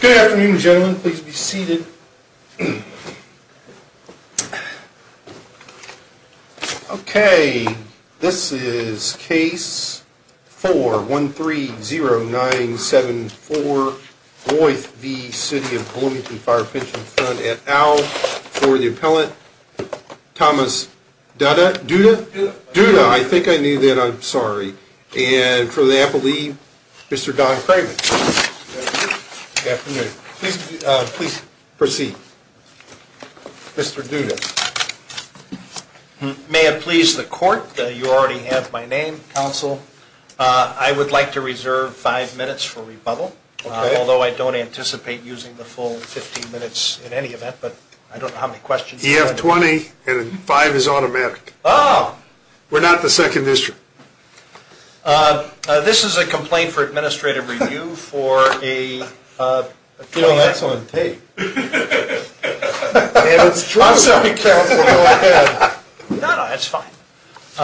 Good afternoon, gentlemen. Please be seated. Okay, this is Case 4-130974, Boith v. City of Bloomington Fire Pension Fund at Owl, for the appellant, Thomas Duda. Duda, I think I knew that, I'm sorry. And for the appellee, Mr. Don Kravitz. Good afternoon. Please proceed. Mr. Duda. May it please the court, you already have my name, counsel, I would like to reserve five minutes for rebuttal, although I don't anticipate using the full 15 minutes in any event, but I don't know how many questions you have. You have 20, and five is automatic. Oh. We're not the second district. This is a complaint for administrative review for a You know, that's on tape. I'm sorry, counsel, go ahead. No, no, that's fine. For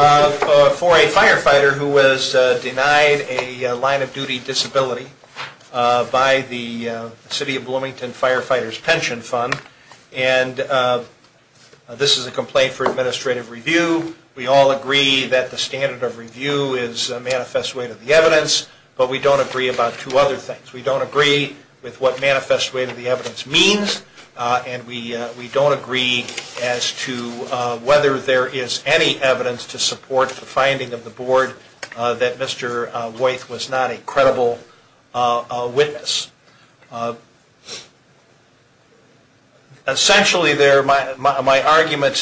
a firefighter who was denied a line of duty disability by the City of Bloomington Firefighters Pension Fund, and this is a complaint for administrative review. We all agree that the standard of review is a manifest way to the evidence, but we don't agree about two other things. We don't agree with what manifest way to the evidence means, and we don't agree as to whether there is any evidence to support the finding of the board that Mr. White was not a credible witness. Essentially, my argument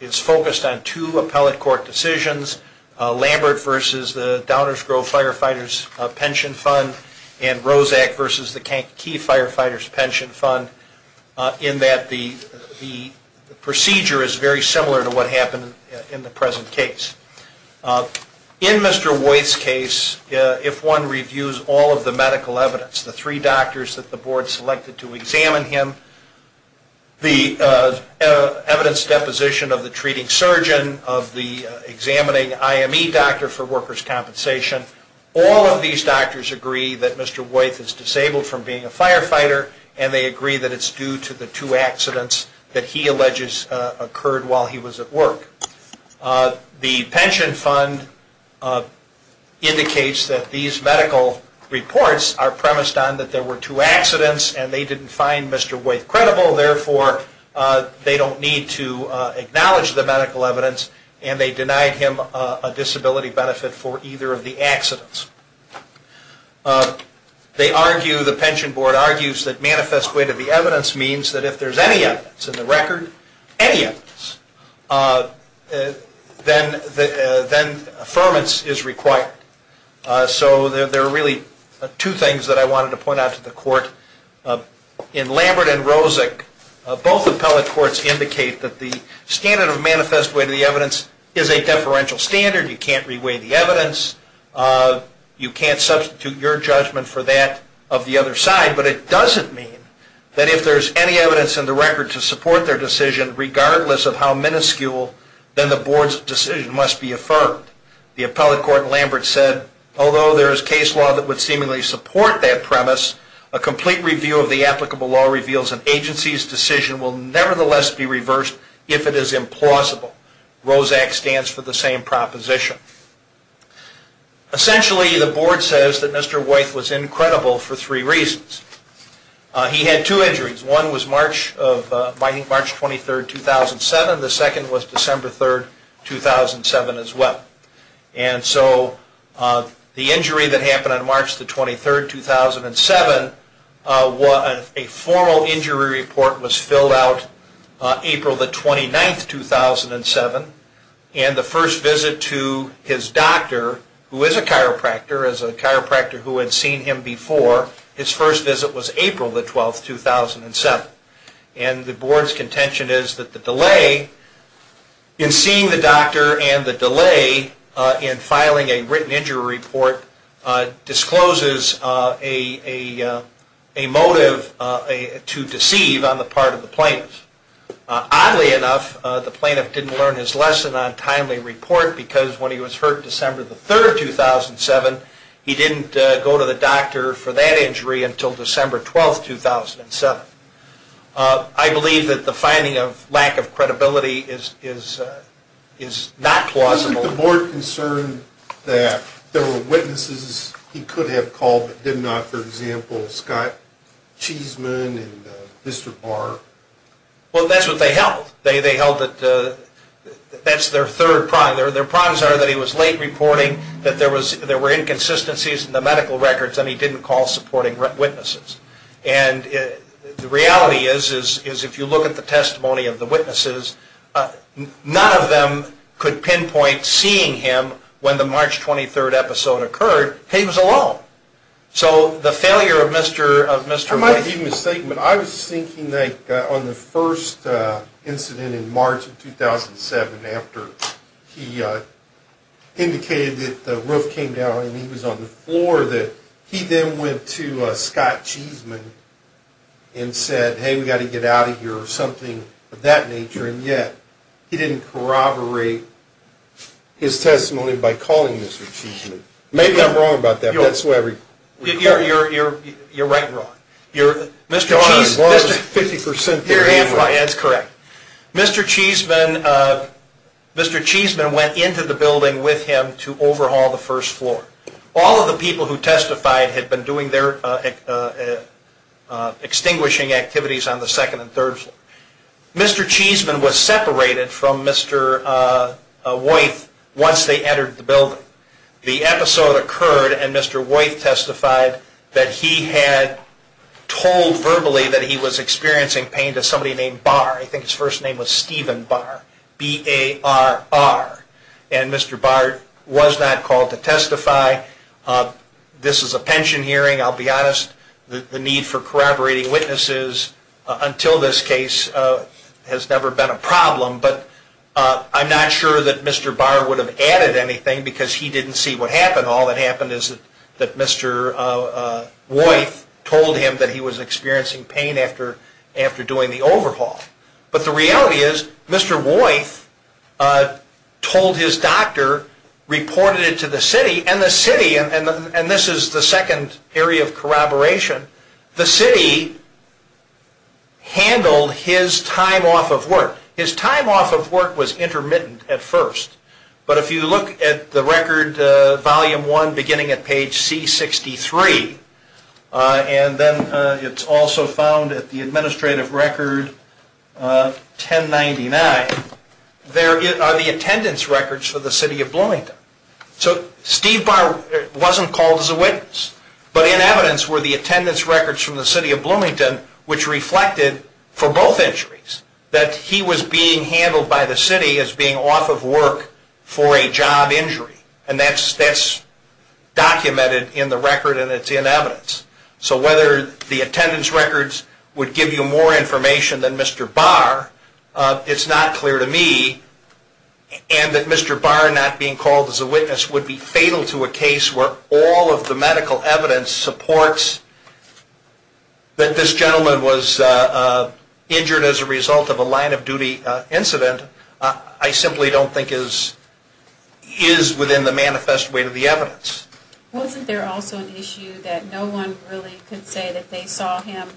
is focused on two appellate court decisions, Lambert versus the Downers Grove Firefighters Pension Fund, and Roszak versus the Kankakee Firefighters Pension Fund, in that the procedure is very similar to what happened in the present case. In Mr. White's case, if one reviews all of the medical evidence, the three doctors that the board selected to examine him, the evidence deposition of the treating surgeon, of the examining IME doctor for workers' compensation, all of these doctors agree that Mr. White is disabled from being a firefighter, and they agree that it's due to the two accidents that he alleges occurred while he was at work. The Pension Fund indicates that these medical reports are premised on that there were two accidents, and they didn't find Mr. White credible, therefore they don't need to acknowledge the medical evidence, and they denied him a disability benefit for either of the accidents. They argue, the Pension Board argues, that manifest way to the evidence means that if there's any evidence in the record, any evidence, then affirmance is required. So there are really two things that I wanted to point out to the court. In Lambert and Roszak, both appellate courts indicate that the standard of manifest way to the evidence is a deferential standard. You can't re-weigh the evidence. You can't substitute your judgment for that of the other side, but it doesn't mean that if there's any evidence in the record to support their decision, regardless of how minuscule, then the board's decision must be affirmed. The appellate court in Lambert said, although there is case law that would seemingly support that premise, a complete review of the applicable law reveals an agency's decision will nevertheless be reversed if it is implausible. Roszak stands for the same proposition. Essentially, the board says that Mr. Wythe was incredible for three reasons. He had two injuries. One was March 23, 2007. The second was December 3, 2007 as well. And so the injury that happened on March 23, 2007, a formal injury report was filled out April 29, 2007, and the first visit to his doctor, who is a chiropractor, as a chiropractor who had seen him before, his first visit was April 12, 2007. And the board's contention is that the delay in seeing the doctor and the delay in filing a written injury report discloses a motive to deceive on the part of the plaintiff. Oddly enough, the plaintiff didn't learn his lesson on timely report because when he was hurt December 3, 2007, he didn't go to the doctor for that injury until December 12, 2007. I believe that the finding of lack of credibility is not plausible. Wasn't the board concerned that there were witnesses he could have called but did not? For example, Scott Cheeseman and Mr. Barr. Well, that's what they held. They held that that's their third prime. Their primes are that he was late reporting, that there were inconsistencies in the medical records, and he didn't call supporting witnesses. And the reality is if you look at the testimony of the witnesses, none of them could pinpoint seeing him when the March 23 episode occurred. He was alone. So the failure of Mr. Barr. I might be mistaken, but I was thinking like on the first incident in March of 2007 after he indicated that the roof came down and he was on the floor, that he then went to Scott Cheeseman and said, hey, we've got to get out of here or something of that nature, and yet he didn't corroborate his testimony by calling Mr. Cheeseman. Maybe I'm wrong about that, but that's the way I read it. You're right and wrong. You're half right, that's correct. Mr. Cheeseman went into the building with him to overhaul the first floor. All of the people who testified had been doing their extinguishing activities on the second and third floor. Mr. Cheeseman was separated from Mr. Wythe once they entered the building. The episode occurred and Mr. Wythe testified that he had told verbally that he was experiencing pain to somebody named Barr. I think his first name was Stephen Barr, B-A-R-R. And Mr. Barr was not called to testify. This is a pension hearing. I'll be honest. The need for corroborating witnesses until this case has never been a problem, but I'm not sure that Mr. Barr would have added anything because he didn't see what happened. All that happened is that Mr. Wythe told him that he was experiencing pain after doing the overhaul. But the reality is Mr. Wythe told his doctor, reported it to the city, and the city, and this is the second area of corroboration, the city handled his time off of work. His time off of work was intermittent at first, but if you look at the record, volume one, beginning at page C63, and then it's also found at the administrative record 1099, there are the attendance records for the city of Bloomington. So Steve Barr wasn't called as a witness, but in evidence were the attendance records from the city of Bloomington, which reflected for both injuries that he was being handled by the city as being off of work for a job injury, and that's documented in the record and it's in evidence. So whether the attendance records would give you more information than Mr. Barr, it's not clear to me, and that Mr. Barr not being called as a witness would be fatal to a case where all of the medical evidence supports that this gentleman was injured as a result of a line of duty incident, I simply don't think is within the manifest way to the evidence. Wasn't there also an issue that no one really could say that they saw him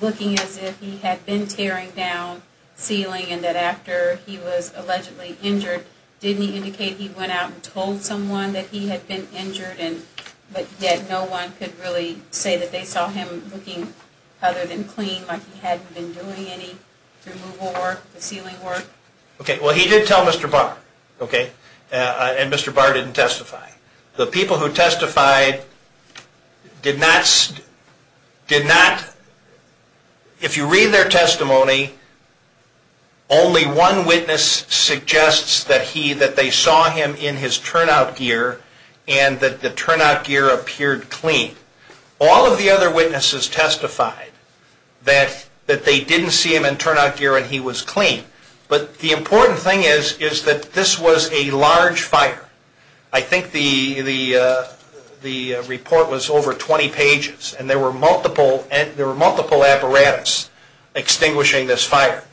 looking as if he had been tearing down ceiling and that after he was allegedly injured, didn't he indicate he went out and told someone that he had been injured but yet no one could really say that they saw him looking other than clean, like he hadn't been doing any removal work, the ceiling work? Okay, well he did tell Mr. Barr, okay, and Mr. Barr didn't testify. The people who testified did not, if you read their testimony, only one witness suggests that they saw him in his turnout gear and that the turnout gear appeared clean. All of the other witnesses testified that they didn't see him in turnout gear and he was clean, but the important thing is that this was a large fire. I think the report was over 20 pages and there were multiple apparatus extinguishing this fire.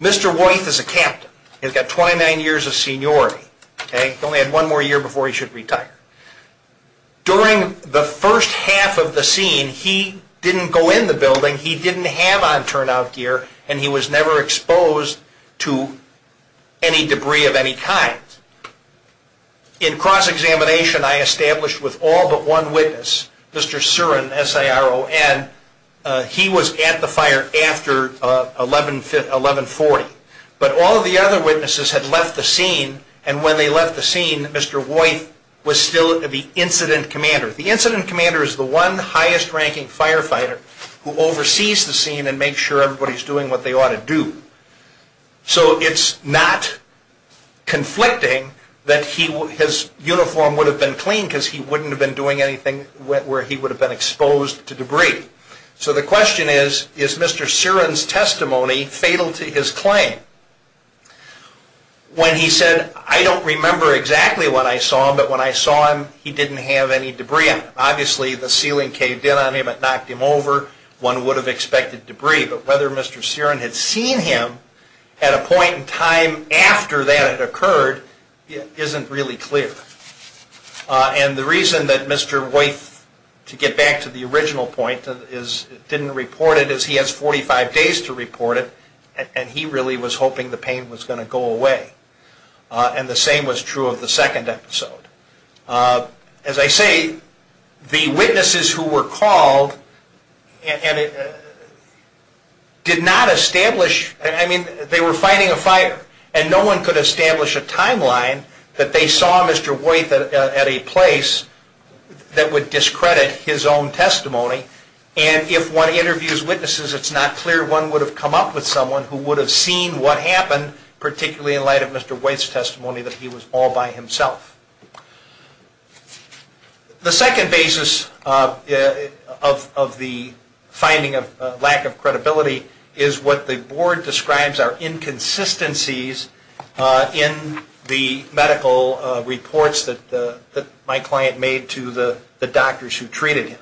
Mr. Wythe is a captain. He's got 29 years of seniority. He only had one more year before he should retire. During the first half of the scene, he didn't go in the building, he didn't have on turnout gear, and he was never exposed to any debris of any kind. In cross-examination, I established with all but one witness, Mr. Surin, S-I-R-O-N, he was at the fire after 1140, but all of the other witnesses had left the scene and when they left the scene, Mr. Wythe was still the incident commander. The incident commander is the one highest-ranking firefighter who oversees the scene and makes sure everybody is doing what they ought to do. So it's not conflicting that his uniform would have been clean because he wouldn't have been doing anything where he would have been exposed to debris. So the question is, is Mr. Surin's testimony fatal to his claim? When he said, I don't remember exactly when I saw him, but when I saw him, he didn't have any debris on him. Obviously the ceiling caved in on him, it knocked him over, one would have expected debris, but whether Mr. Surin had seen him at a point in time after that had occurred isn't really clear. And the reason that Mr. Wythe, to get back to the original point, didn't report it is he has 45 days to report it, and he really was hoping the pain was going to go away. And the same was true of the second episode. As I say, the witnesses who were called did not establish, I mean they were fighting a fire, and no one could establish a timeline that they saw Mr. Wythe at a place that would discredit his own testimony. And if one interviews witnesses, it's not clear one would have come up with someone who would have seen what happened, particularly in light of Mr. Wythe's testimony, that he was all by himself. The second basis of the finding of lack of credibility is what the board describes are inconsistencies in the medical reports that my client made to the doctors who treated him.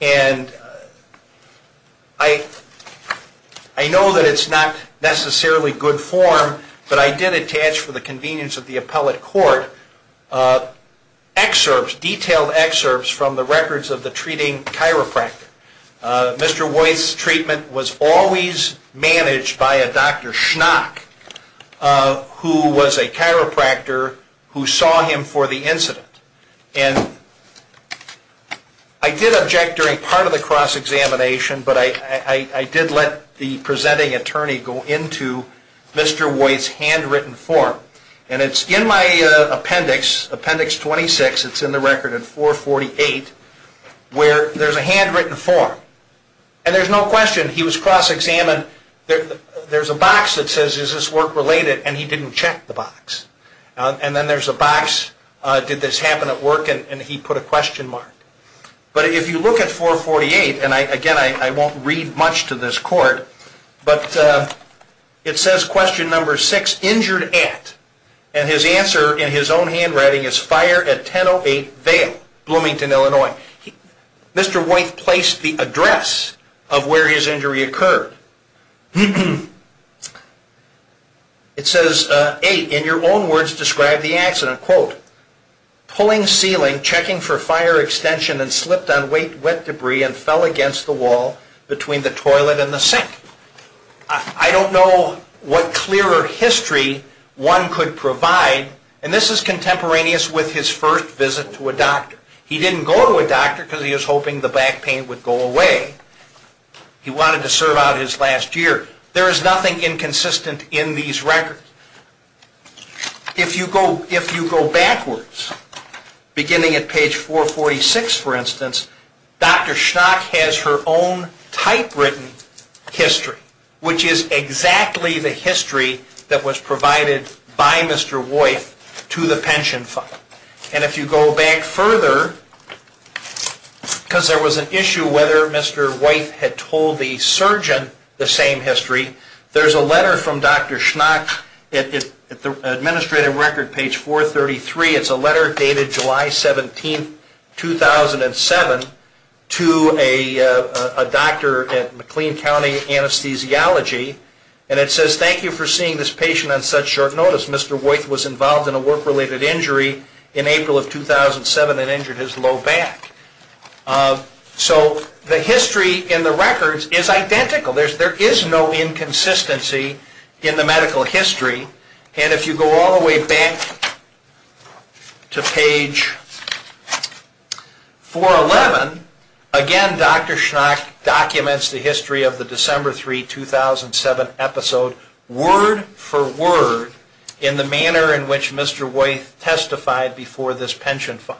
And I know that it's not necessarily good form, but I did attach for the convenience of the appellate court detailed excerpts from the records of the treating chiropractor. Mr. Wythe's treatment was always managed by a Dr. Schnock, who was a chiropractor who saw him for the incident. And I did object during part of the cross-examination, but I did let the presenting attorney go into Mr. Wythe's handwritten form. And it's in my appendix, appendix 26, it's in the record in 448, where there's a handwritten form. And there's no question he was cross-examined. There's a box that says, is this work related, and he didn't check the box. And then there's a box, did this happen at work, and he put a question mark. But if you look at 448, and again, I won't read much to this court, but it says question number six, injured at, and his answer in his own handwriting is fire at 1008 Vail, Bloomington, Illinois. Mr. Wythe placed the address of where his injury occurred. It says, eight, in your own words describe the accident, quote, pulling ceiling, checking for fire extension, and slipped on wet debris and fell against the wall between the toilet and the sink. I don't know what clearer history one could provide, and this is contemporaneous with his first visit to a doctor. He didn't go to a doctor because he was hoping the back pain would go away. He wanted to serve out his last year. There is nothing inconsistent in these records. If you go backwards, beginning at page 446, for instance, Dr. Schnock has her own typewritten history, which is exactly the history that was provided by Mr. Wythe to the pension fund. And if you go back further, because there was an issue whether Mr. Wythe had told the surgeon the same history, there's a letter from Dr. Schnock at the administrative record, page 433. It's a letter dated July 17, 2007, to a doctor at McLean County Anesthesiology, and it says, thank you for seeing this patient on such short notice. Mr. Wythe was involved in a work-related injury in April of 2007 and injured his low back. So the history in the records is identical. There is no inconsistency in the medical history. And if you go all the way back to page 411, again Dr. Schnock documents the history of the December 3, 2007 episode word for word in the manner in which Mr. Wythe testified before this pension fund.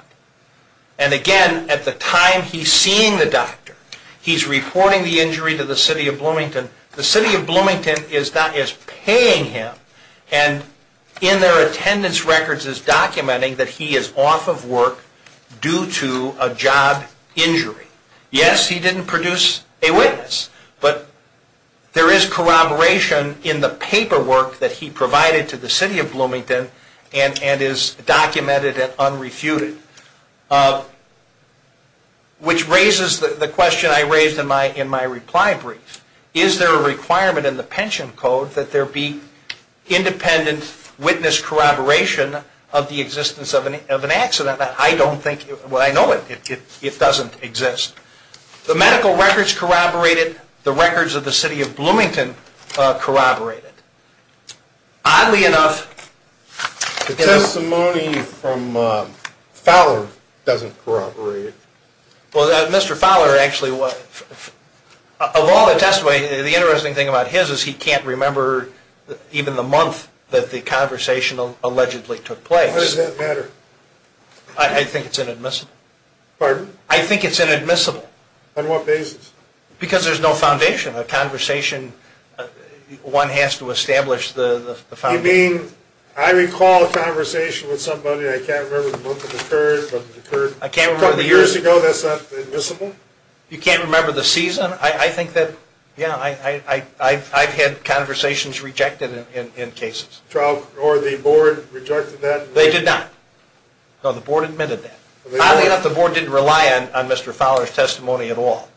And again, at the time he's seeing the doctor, he's reporting the injury to the City of Bloomington. The City of Bloomington is paying him, and in their attendance records is documenting that he is off of work due to a job injury. Yes, he didn't produce a witness, but there is corroboration in the paperwork that he provided to the City of Bloomington and is documented and unrefuted. Which raises the question I raised in my reply brief. Is there a requirement in the pension code that there be independent witness corroboration of the existence of an accident? I don't think, well I know it doesn't exist. The medical records corroborated, the records of the City of Bloomington corroborated. Oddly enough... The testimony from Fowler doesn't corroborate. Well, Mr. Fowler actually, of all the testimony, the interesting thing about his is he can't remember even the month that the conversation allegedly took place. Why does that matter? I think it's inadmissible. Pardon? I think it's inadmissible. On what basis? Because there's no foundation. A conversation, one has to establish the foundation. You mean, I recall a conversation with somebody, I can't remember the month it occurred, but it occurred probably years ago, that's not admissible? You can't remember the season? I think that, yeah, I've had conversations rejected in cases. Or the board rejected that? They did not. No, the board admitted that. Oddly enough, the board didn't rely on Mr. Fowler's testimony at all.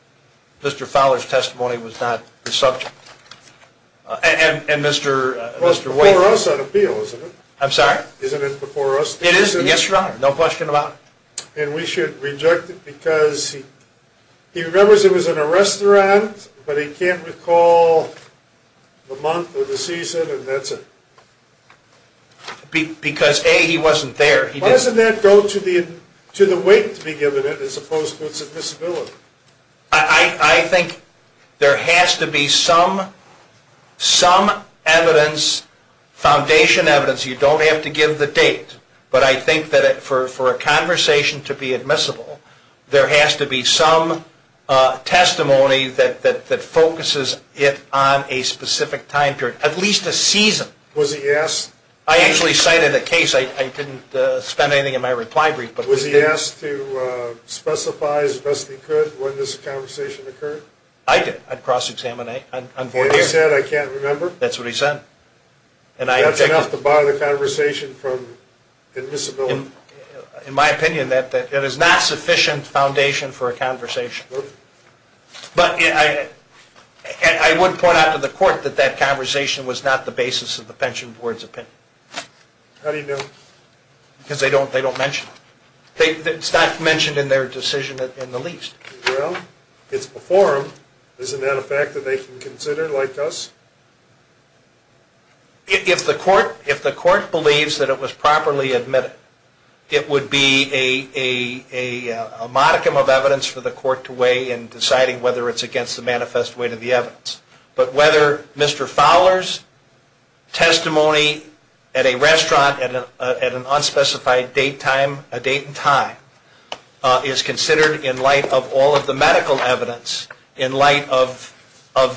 Mr. Fowler's testimony was not the subject. And Mr. Wake... Well, it's before us on appeal, isn't it? I'm sorry? Isn't it before us? It is, yes, Your Honor. No question about it. And we should reject it because he remembers it was in a restaurant, but he can't recall the month or the season, and that's it. Because, A, he wasn't there. Why doesn't that go to the weight to be given as opposed to its admissibility? I think there has to be some evidence, foundation evidence. You don't have to give the date. But I think that for a conversation to be admissible, there has to be some testimony that focuses it on a specific time period, at least a season. Was he asked? I actually cited a case. I didn't spend anything in my reply brief. Was he asked to specify as best he could when this conversation occurred? I did. I'd cross-examine it. And he said, I can't remember? That's what he said. That's enough to bar the conversation from admissibility. In my opinion, that is not sufficient foundation for a conversation. But I would point out to the court that that conversation was not the basis of the pension board's opinion. How do you know? Because they don't mention it. It's not mentioned in their decision in the least. Well, it's before them. Isn't that a fact that they can consider, like us? If the court believes that it was properly admitted, it would be a modicum of evidence for the court to weigh in deciding whether it's against the manifest weight of the evidence. But whether Mr. Fowler's testimony at a restaurant at an unspecified date and time is considered in light of all of the medical evidence, in light of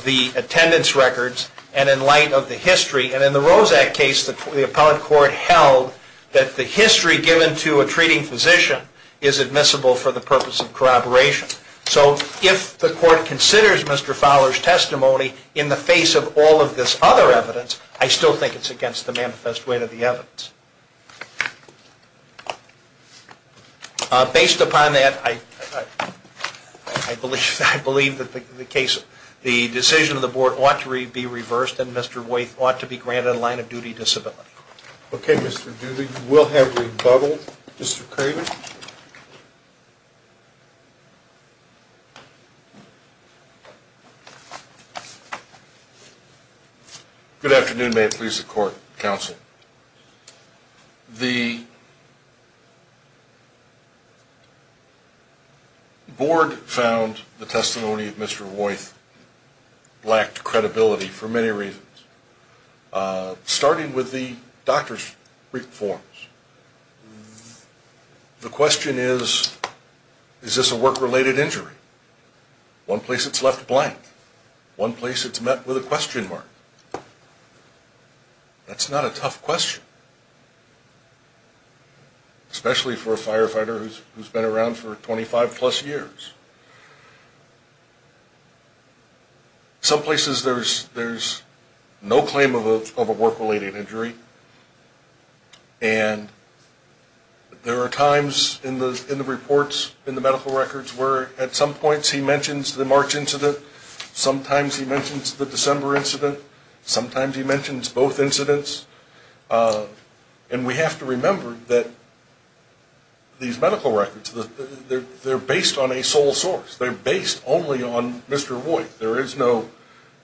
the attendance records, and in light of the history. And in the Roszak case, the appellate court held that the history given to a treating physician is admissible for the purpose of corroboration. So if the court considers Mr. Fowler's testimony in the face of all of this other evidence, I still think it's against the manifest weight of the evidence. Based upon that, I believe that the decision of the board ought to be reversed and Mr. Wythe ought to be granted a line of duty disability. Okay, Mr. Doody. We'll have rebuttal. Mr. Craven. Good afternoon. May it please the court, counsel. The board found the testimony of Mr. Wythe lacked credibility for many reasons, starting with the doctor's brief forms. The question is, is this a work-related injury? One place it's left blank. One place it's met with a question mark. That's not a tough question, especially for a firefighter who's been around for 25-plus years. Some places there's no claim of a work-related injury, and there are times in the reports, in the medical records, where at some points he mentions the March incident, sometimes he mentions the December incident, sometimes he mentions both incidents. And we have to remember that these medical records, they're based on a sole source. They're based only on Mr. Wythe. There is no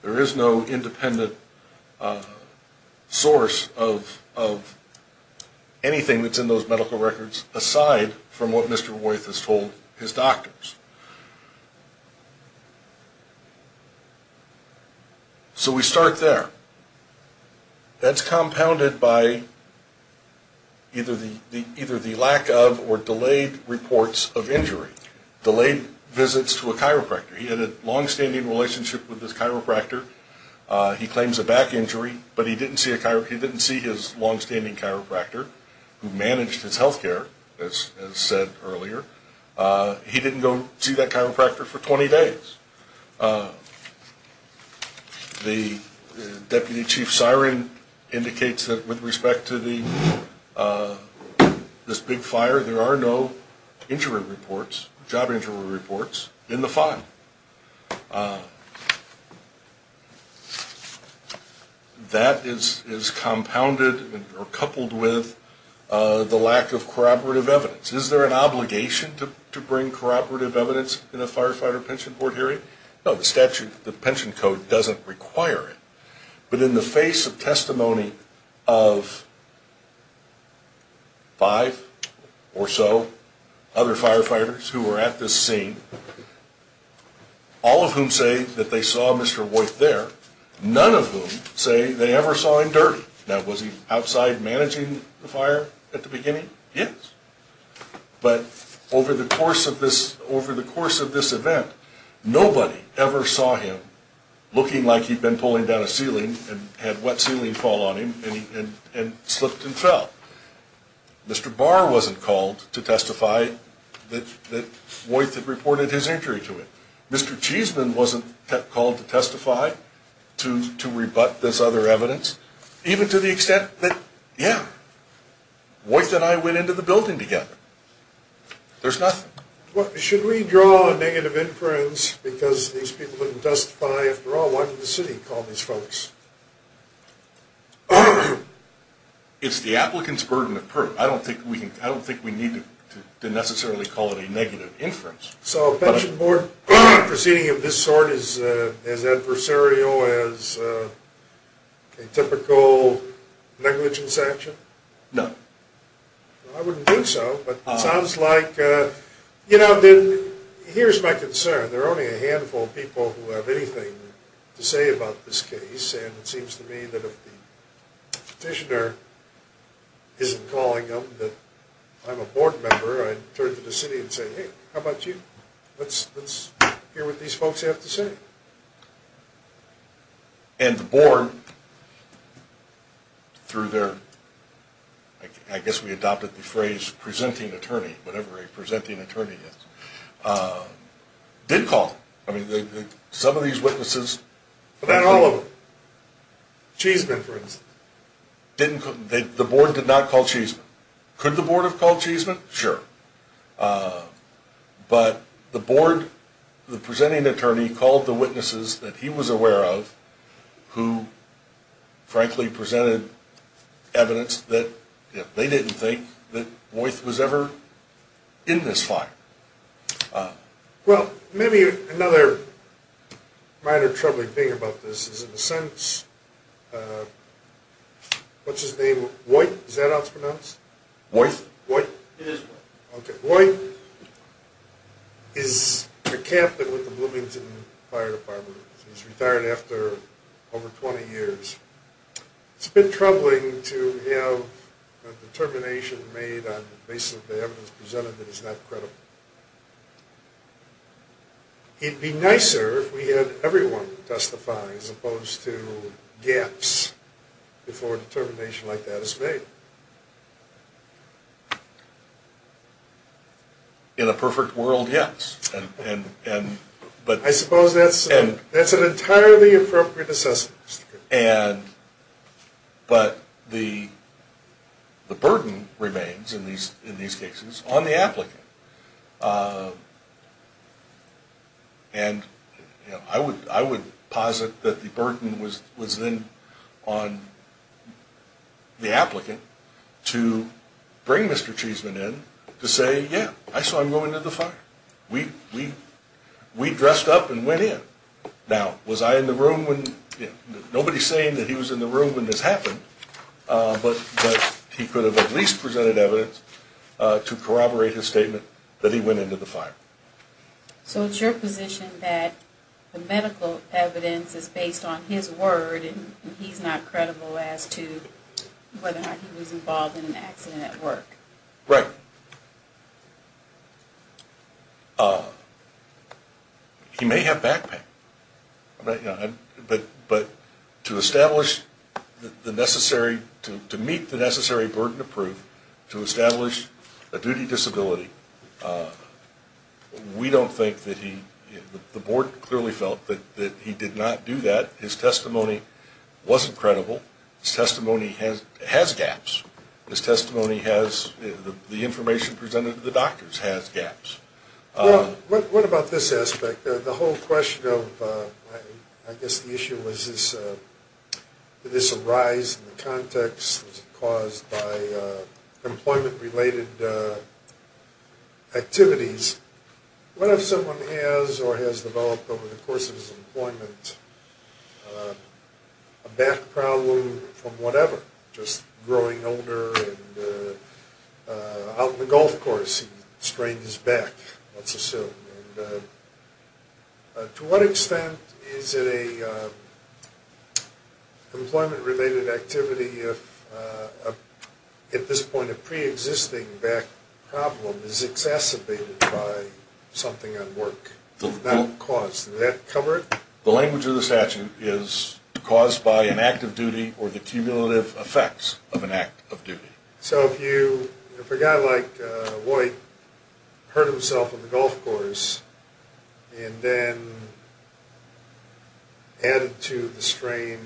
independent source of anything that's in those medical records, aside from what Mr. Wythe has told his doctors. So we start there. That's compounded by either the lack of or delayed reports of injury, delayed visits to a chiropractor. He had a longstanding relationship with his chiropractor. He claims a back injury, but he didn't see his longstanding chiropractor, who managed his health care, as said earlier. He didn't go see that chiropractor for 20 days. The deputy chief siren indicates that with respect to this big fire, there are no injury reports, job injury reports, in the file. That is compounded or coupled with the lack of corroborative evidence. Is there an obligation to bring corroborative evidence in a firefighter pension board hearing? No, the statute, the pension code, doesn't require it. But in the face of testimony of five or so other firefighters who were at this scene, all of whom say that they saw Mr. Wythe there, none of whom say they ever saw him dirty. Now, was he outside managing the fire at the beginning? Yes. But over the course of this event, nobody ever saw him looking like he'd been pulling down a ceiling and had wet ceiling fall on him and slipped and fell. Mr. Barr wasn't called to testify that Wythe had reported his injury to him. Mr. Cheesman wasn't called to testify, to rebut this other evidence, even to the extent that, yeah, Wythe and I went into the building together. There's nothing. Should we draw a negative inference because these people didn't testify after all? Why did the city call these folks? It's the applicant's burden of proof. I don't think we need to necessarily call it a negative inference. So a pension board proceeding of this sort is adversarial as a typical negligence action? No. I wouldn't think so, but it sounds like, you know, then here's my concern. There are only a handful of people who have anything to say about this case, and it seems to me that if the petitioner isn't calling them that I'm a board member, I'd turn to the city and say, hey, how about you? Let's hear what these folks have to say. And the board, through their, I guess we adopted the phrase presenting attorney, whatever a presenting attorney is, did call. I mean, some of these witnesses. But not all of them. The board did not call Cheesman. Could the board have called Cheesman? Sure. But the board, the presenting attorney, called the witnesses that he was aware of who frankly presented evidence that they didn't think that Woyth was ever in this fire. Well, maybe another minor troubling thing about this is in a sense, what's his name, Woyth, is that how it's pronounced? Woyth? It is Woyth. Okay. Woyth is a Catholic with the Bloomington Fire Department. He's retired after over 20 years. It's a bit troubling to have a determination made on the basis of the evidence presented that is not credible. It would be nicer if we had everyone testify as opposed to gaps before a determination like that is made. In a perfect world, yes. I suppose that's an entirely appropriate assessment. But the burden remains in these cases on the applicant. And I would posit that the burden was then on the applicant to bring Mr. Cheesman in to say, yeah, I saw him go into the fire. We dressed up and went in. Now, was I in the room when? Nobody's saying that he was in the room when this happened, but he could have at least presented evidence to corroborate his statement that he went into the fire. So it's your position that the medical evidence is based on his word, and he's not credible as to whether or not he was involved in an accident at work? Right. He may have backpacked. But to establish the necessary, to meet the necessary burden of proof to establish a duty disability, we don't think that he, the board clearly felt that he did not do that. His testimony wasn't credible. His testimony has gaps. His testimony has, the information presented to the doctors has gaps. What about this aspect? The whole question of, I guess the issue was, did this arise in the context, was it caused by employment-related activities? What if someone has or has developed over the course of his employment a back problem from whatever, just growing older and out on the golf course he strained his back, let's assume. To what extent is it a employment-related activity if, at this point, a preexisting back problem is exacerbated by something at work, not caused? Does that cover it? The language of the statute is caused by an act of duty or the cumulative effects of an act of duty. So if you, if a guy like White hurt himself on the golf course and then added to the strain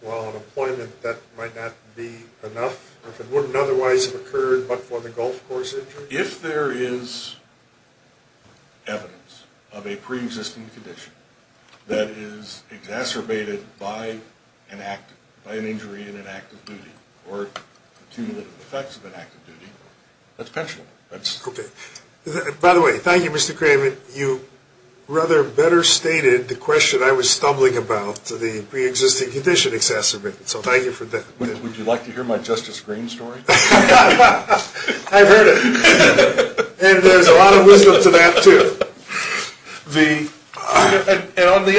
while on employment, that might not be enough? If it wouldn't otherwise have occurred but for the golf course injury? If there is evidence of a preexisting condition that is exacerbated by an act, by an injury in an act of duty or cumulative effects of an act of duty, that's pensionable. Okay. By the way, thank you, Mr. Kramer. You rather better stated the question I was stumbling about, the preexisting condition exacerbated. So thank you for that. Would you like to hear my Justice Green story? I've heard it. And there's a lot of wisdom to that, too. And on the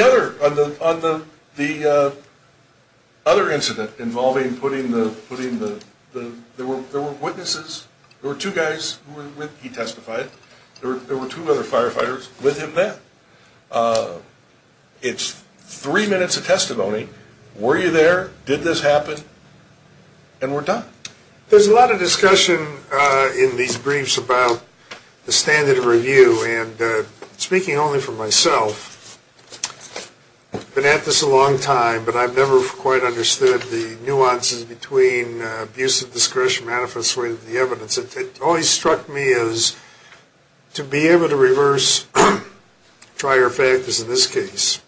other incident involving putting the, there were witnesses. There were two guys who were with, he testified. There were two other firefighters with him then. It's three minutes of testimony. Were you there? Did this happen? And we're done. There's a lot of discussion in these briefs about the standard of review. And speaking only for myself, been at this a long time, but I've never quite understood the nuances between abuse of discretion manifest with the evidence. It always struck me as to be able to reverse prior factors in this case,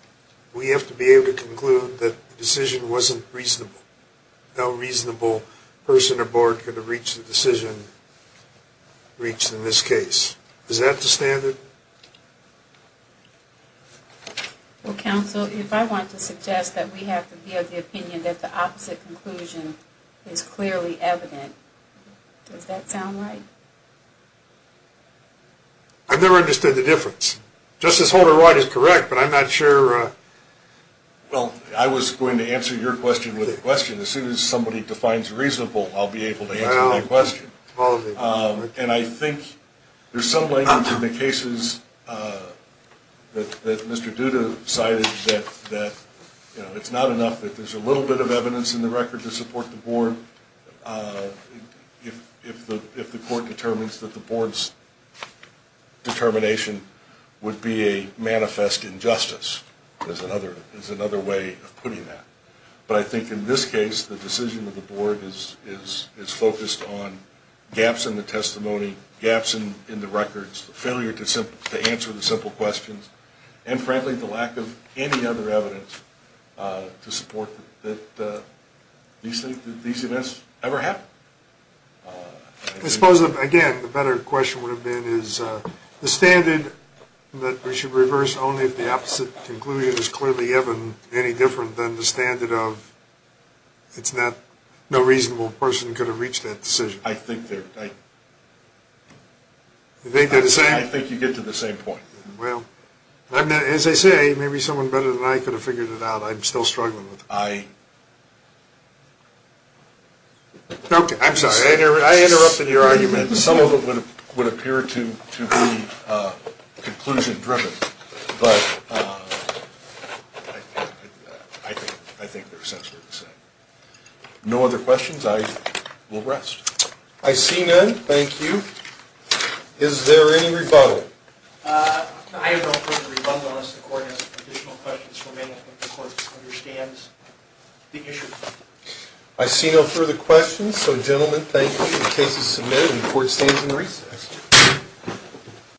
we have to be able to conclude that the decision wasn't reasonable. No reasonable person or board could have reached the decision reached in this case. Is that the standard? Well, counsel, if I want to suggest that we have to give the opinion that the opposite conclusion is clearly evident, does that sound right? I've never understood the difference. Justice Holder-Wright is correct, but I'm not sure. Well, I was going to answer your question with a question. As soon as somebody defines reasonable, I'll be able to answer that question. And I think there's some language in the cases that Mr. Duda cited that, you know, it's not enough that there's a little bit of evidence in the record to support the board if the court determines that the board's determination would be a manifest injustice. There's another way of putting that. But I think in this case, the decision of the board is focused on gaps in the testimony, gaps in the records, the failure to answer the simple questions, and, frankly, the lack of any other evidence to support that these events ever happened. I suppose, again, the better question would have been, is the standard that we should reverse only if the opposite conclusion is clearly evident, any different than the standard of it's not no reasonable person could have reached that decision? I think they're the same. I think you get to the same point. Well, as I say, maybe someone better than I could have figured it out. I'm still struggling with it. I'm sorry. I interrupted your argument. Some of it would appear to be conclusion driven. But I think they're essentially the same. No other questions? I will rest. I see none. Thank you. Is there any rebuttal? I have no further rebuttal unless the court has additional questions for me. I think the court understands the issue. I see no further questions. So, gentlemen, thank you. The case is submitted and the court stands in recess.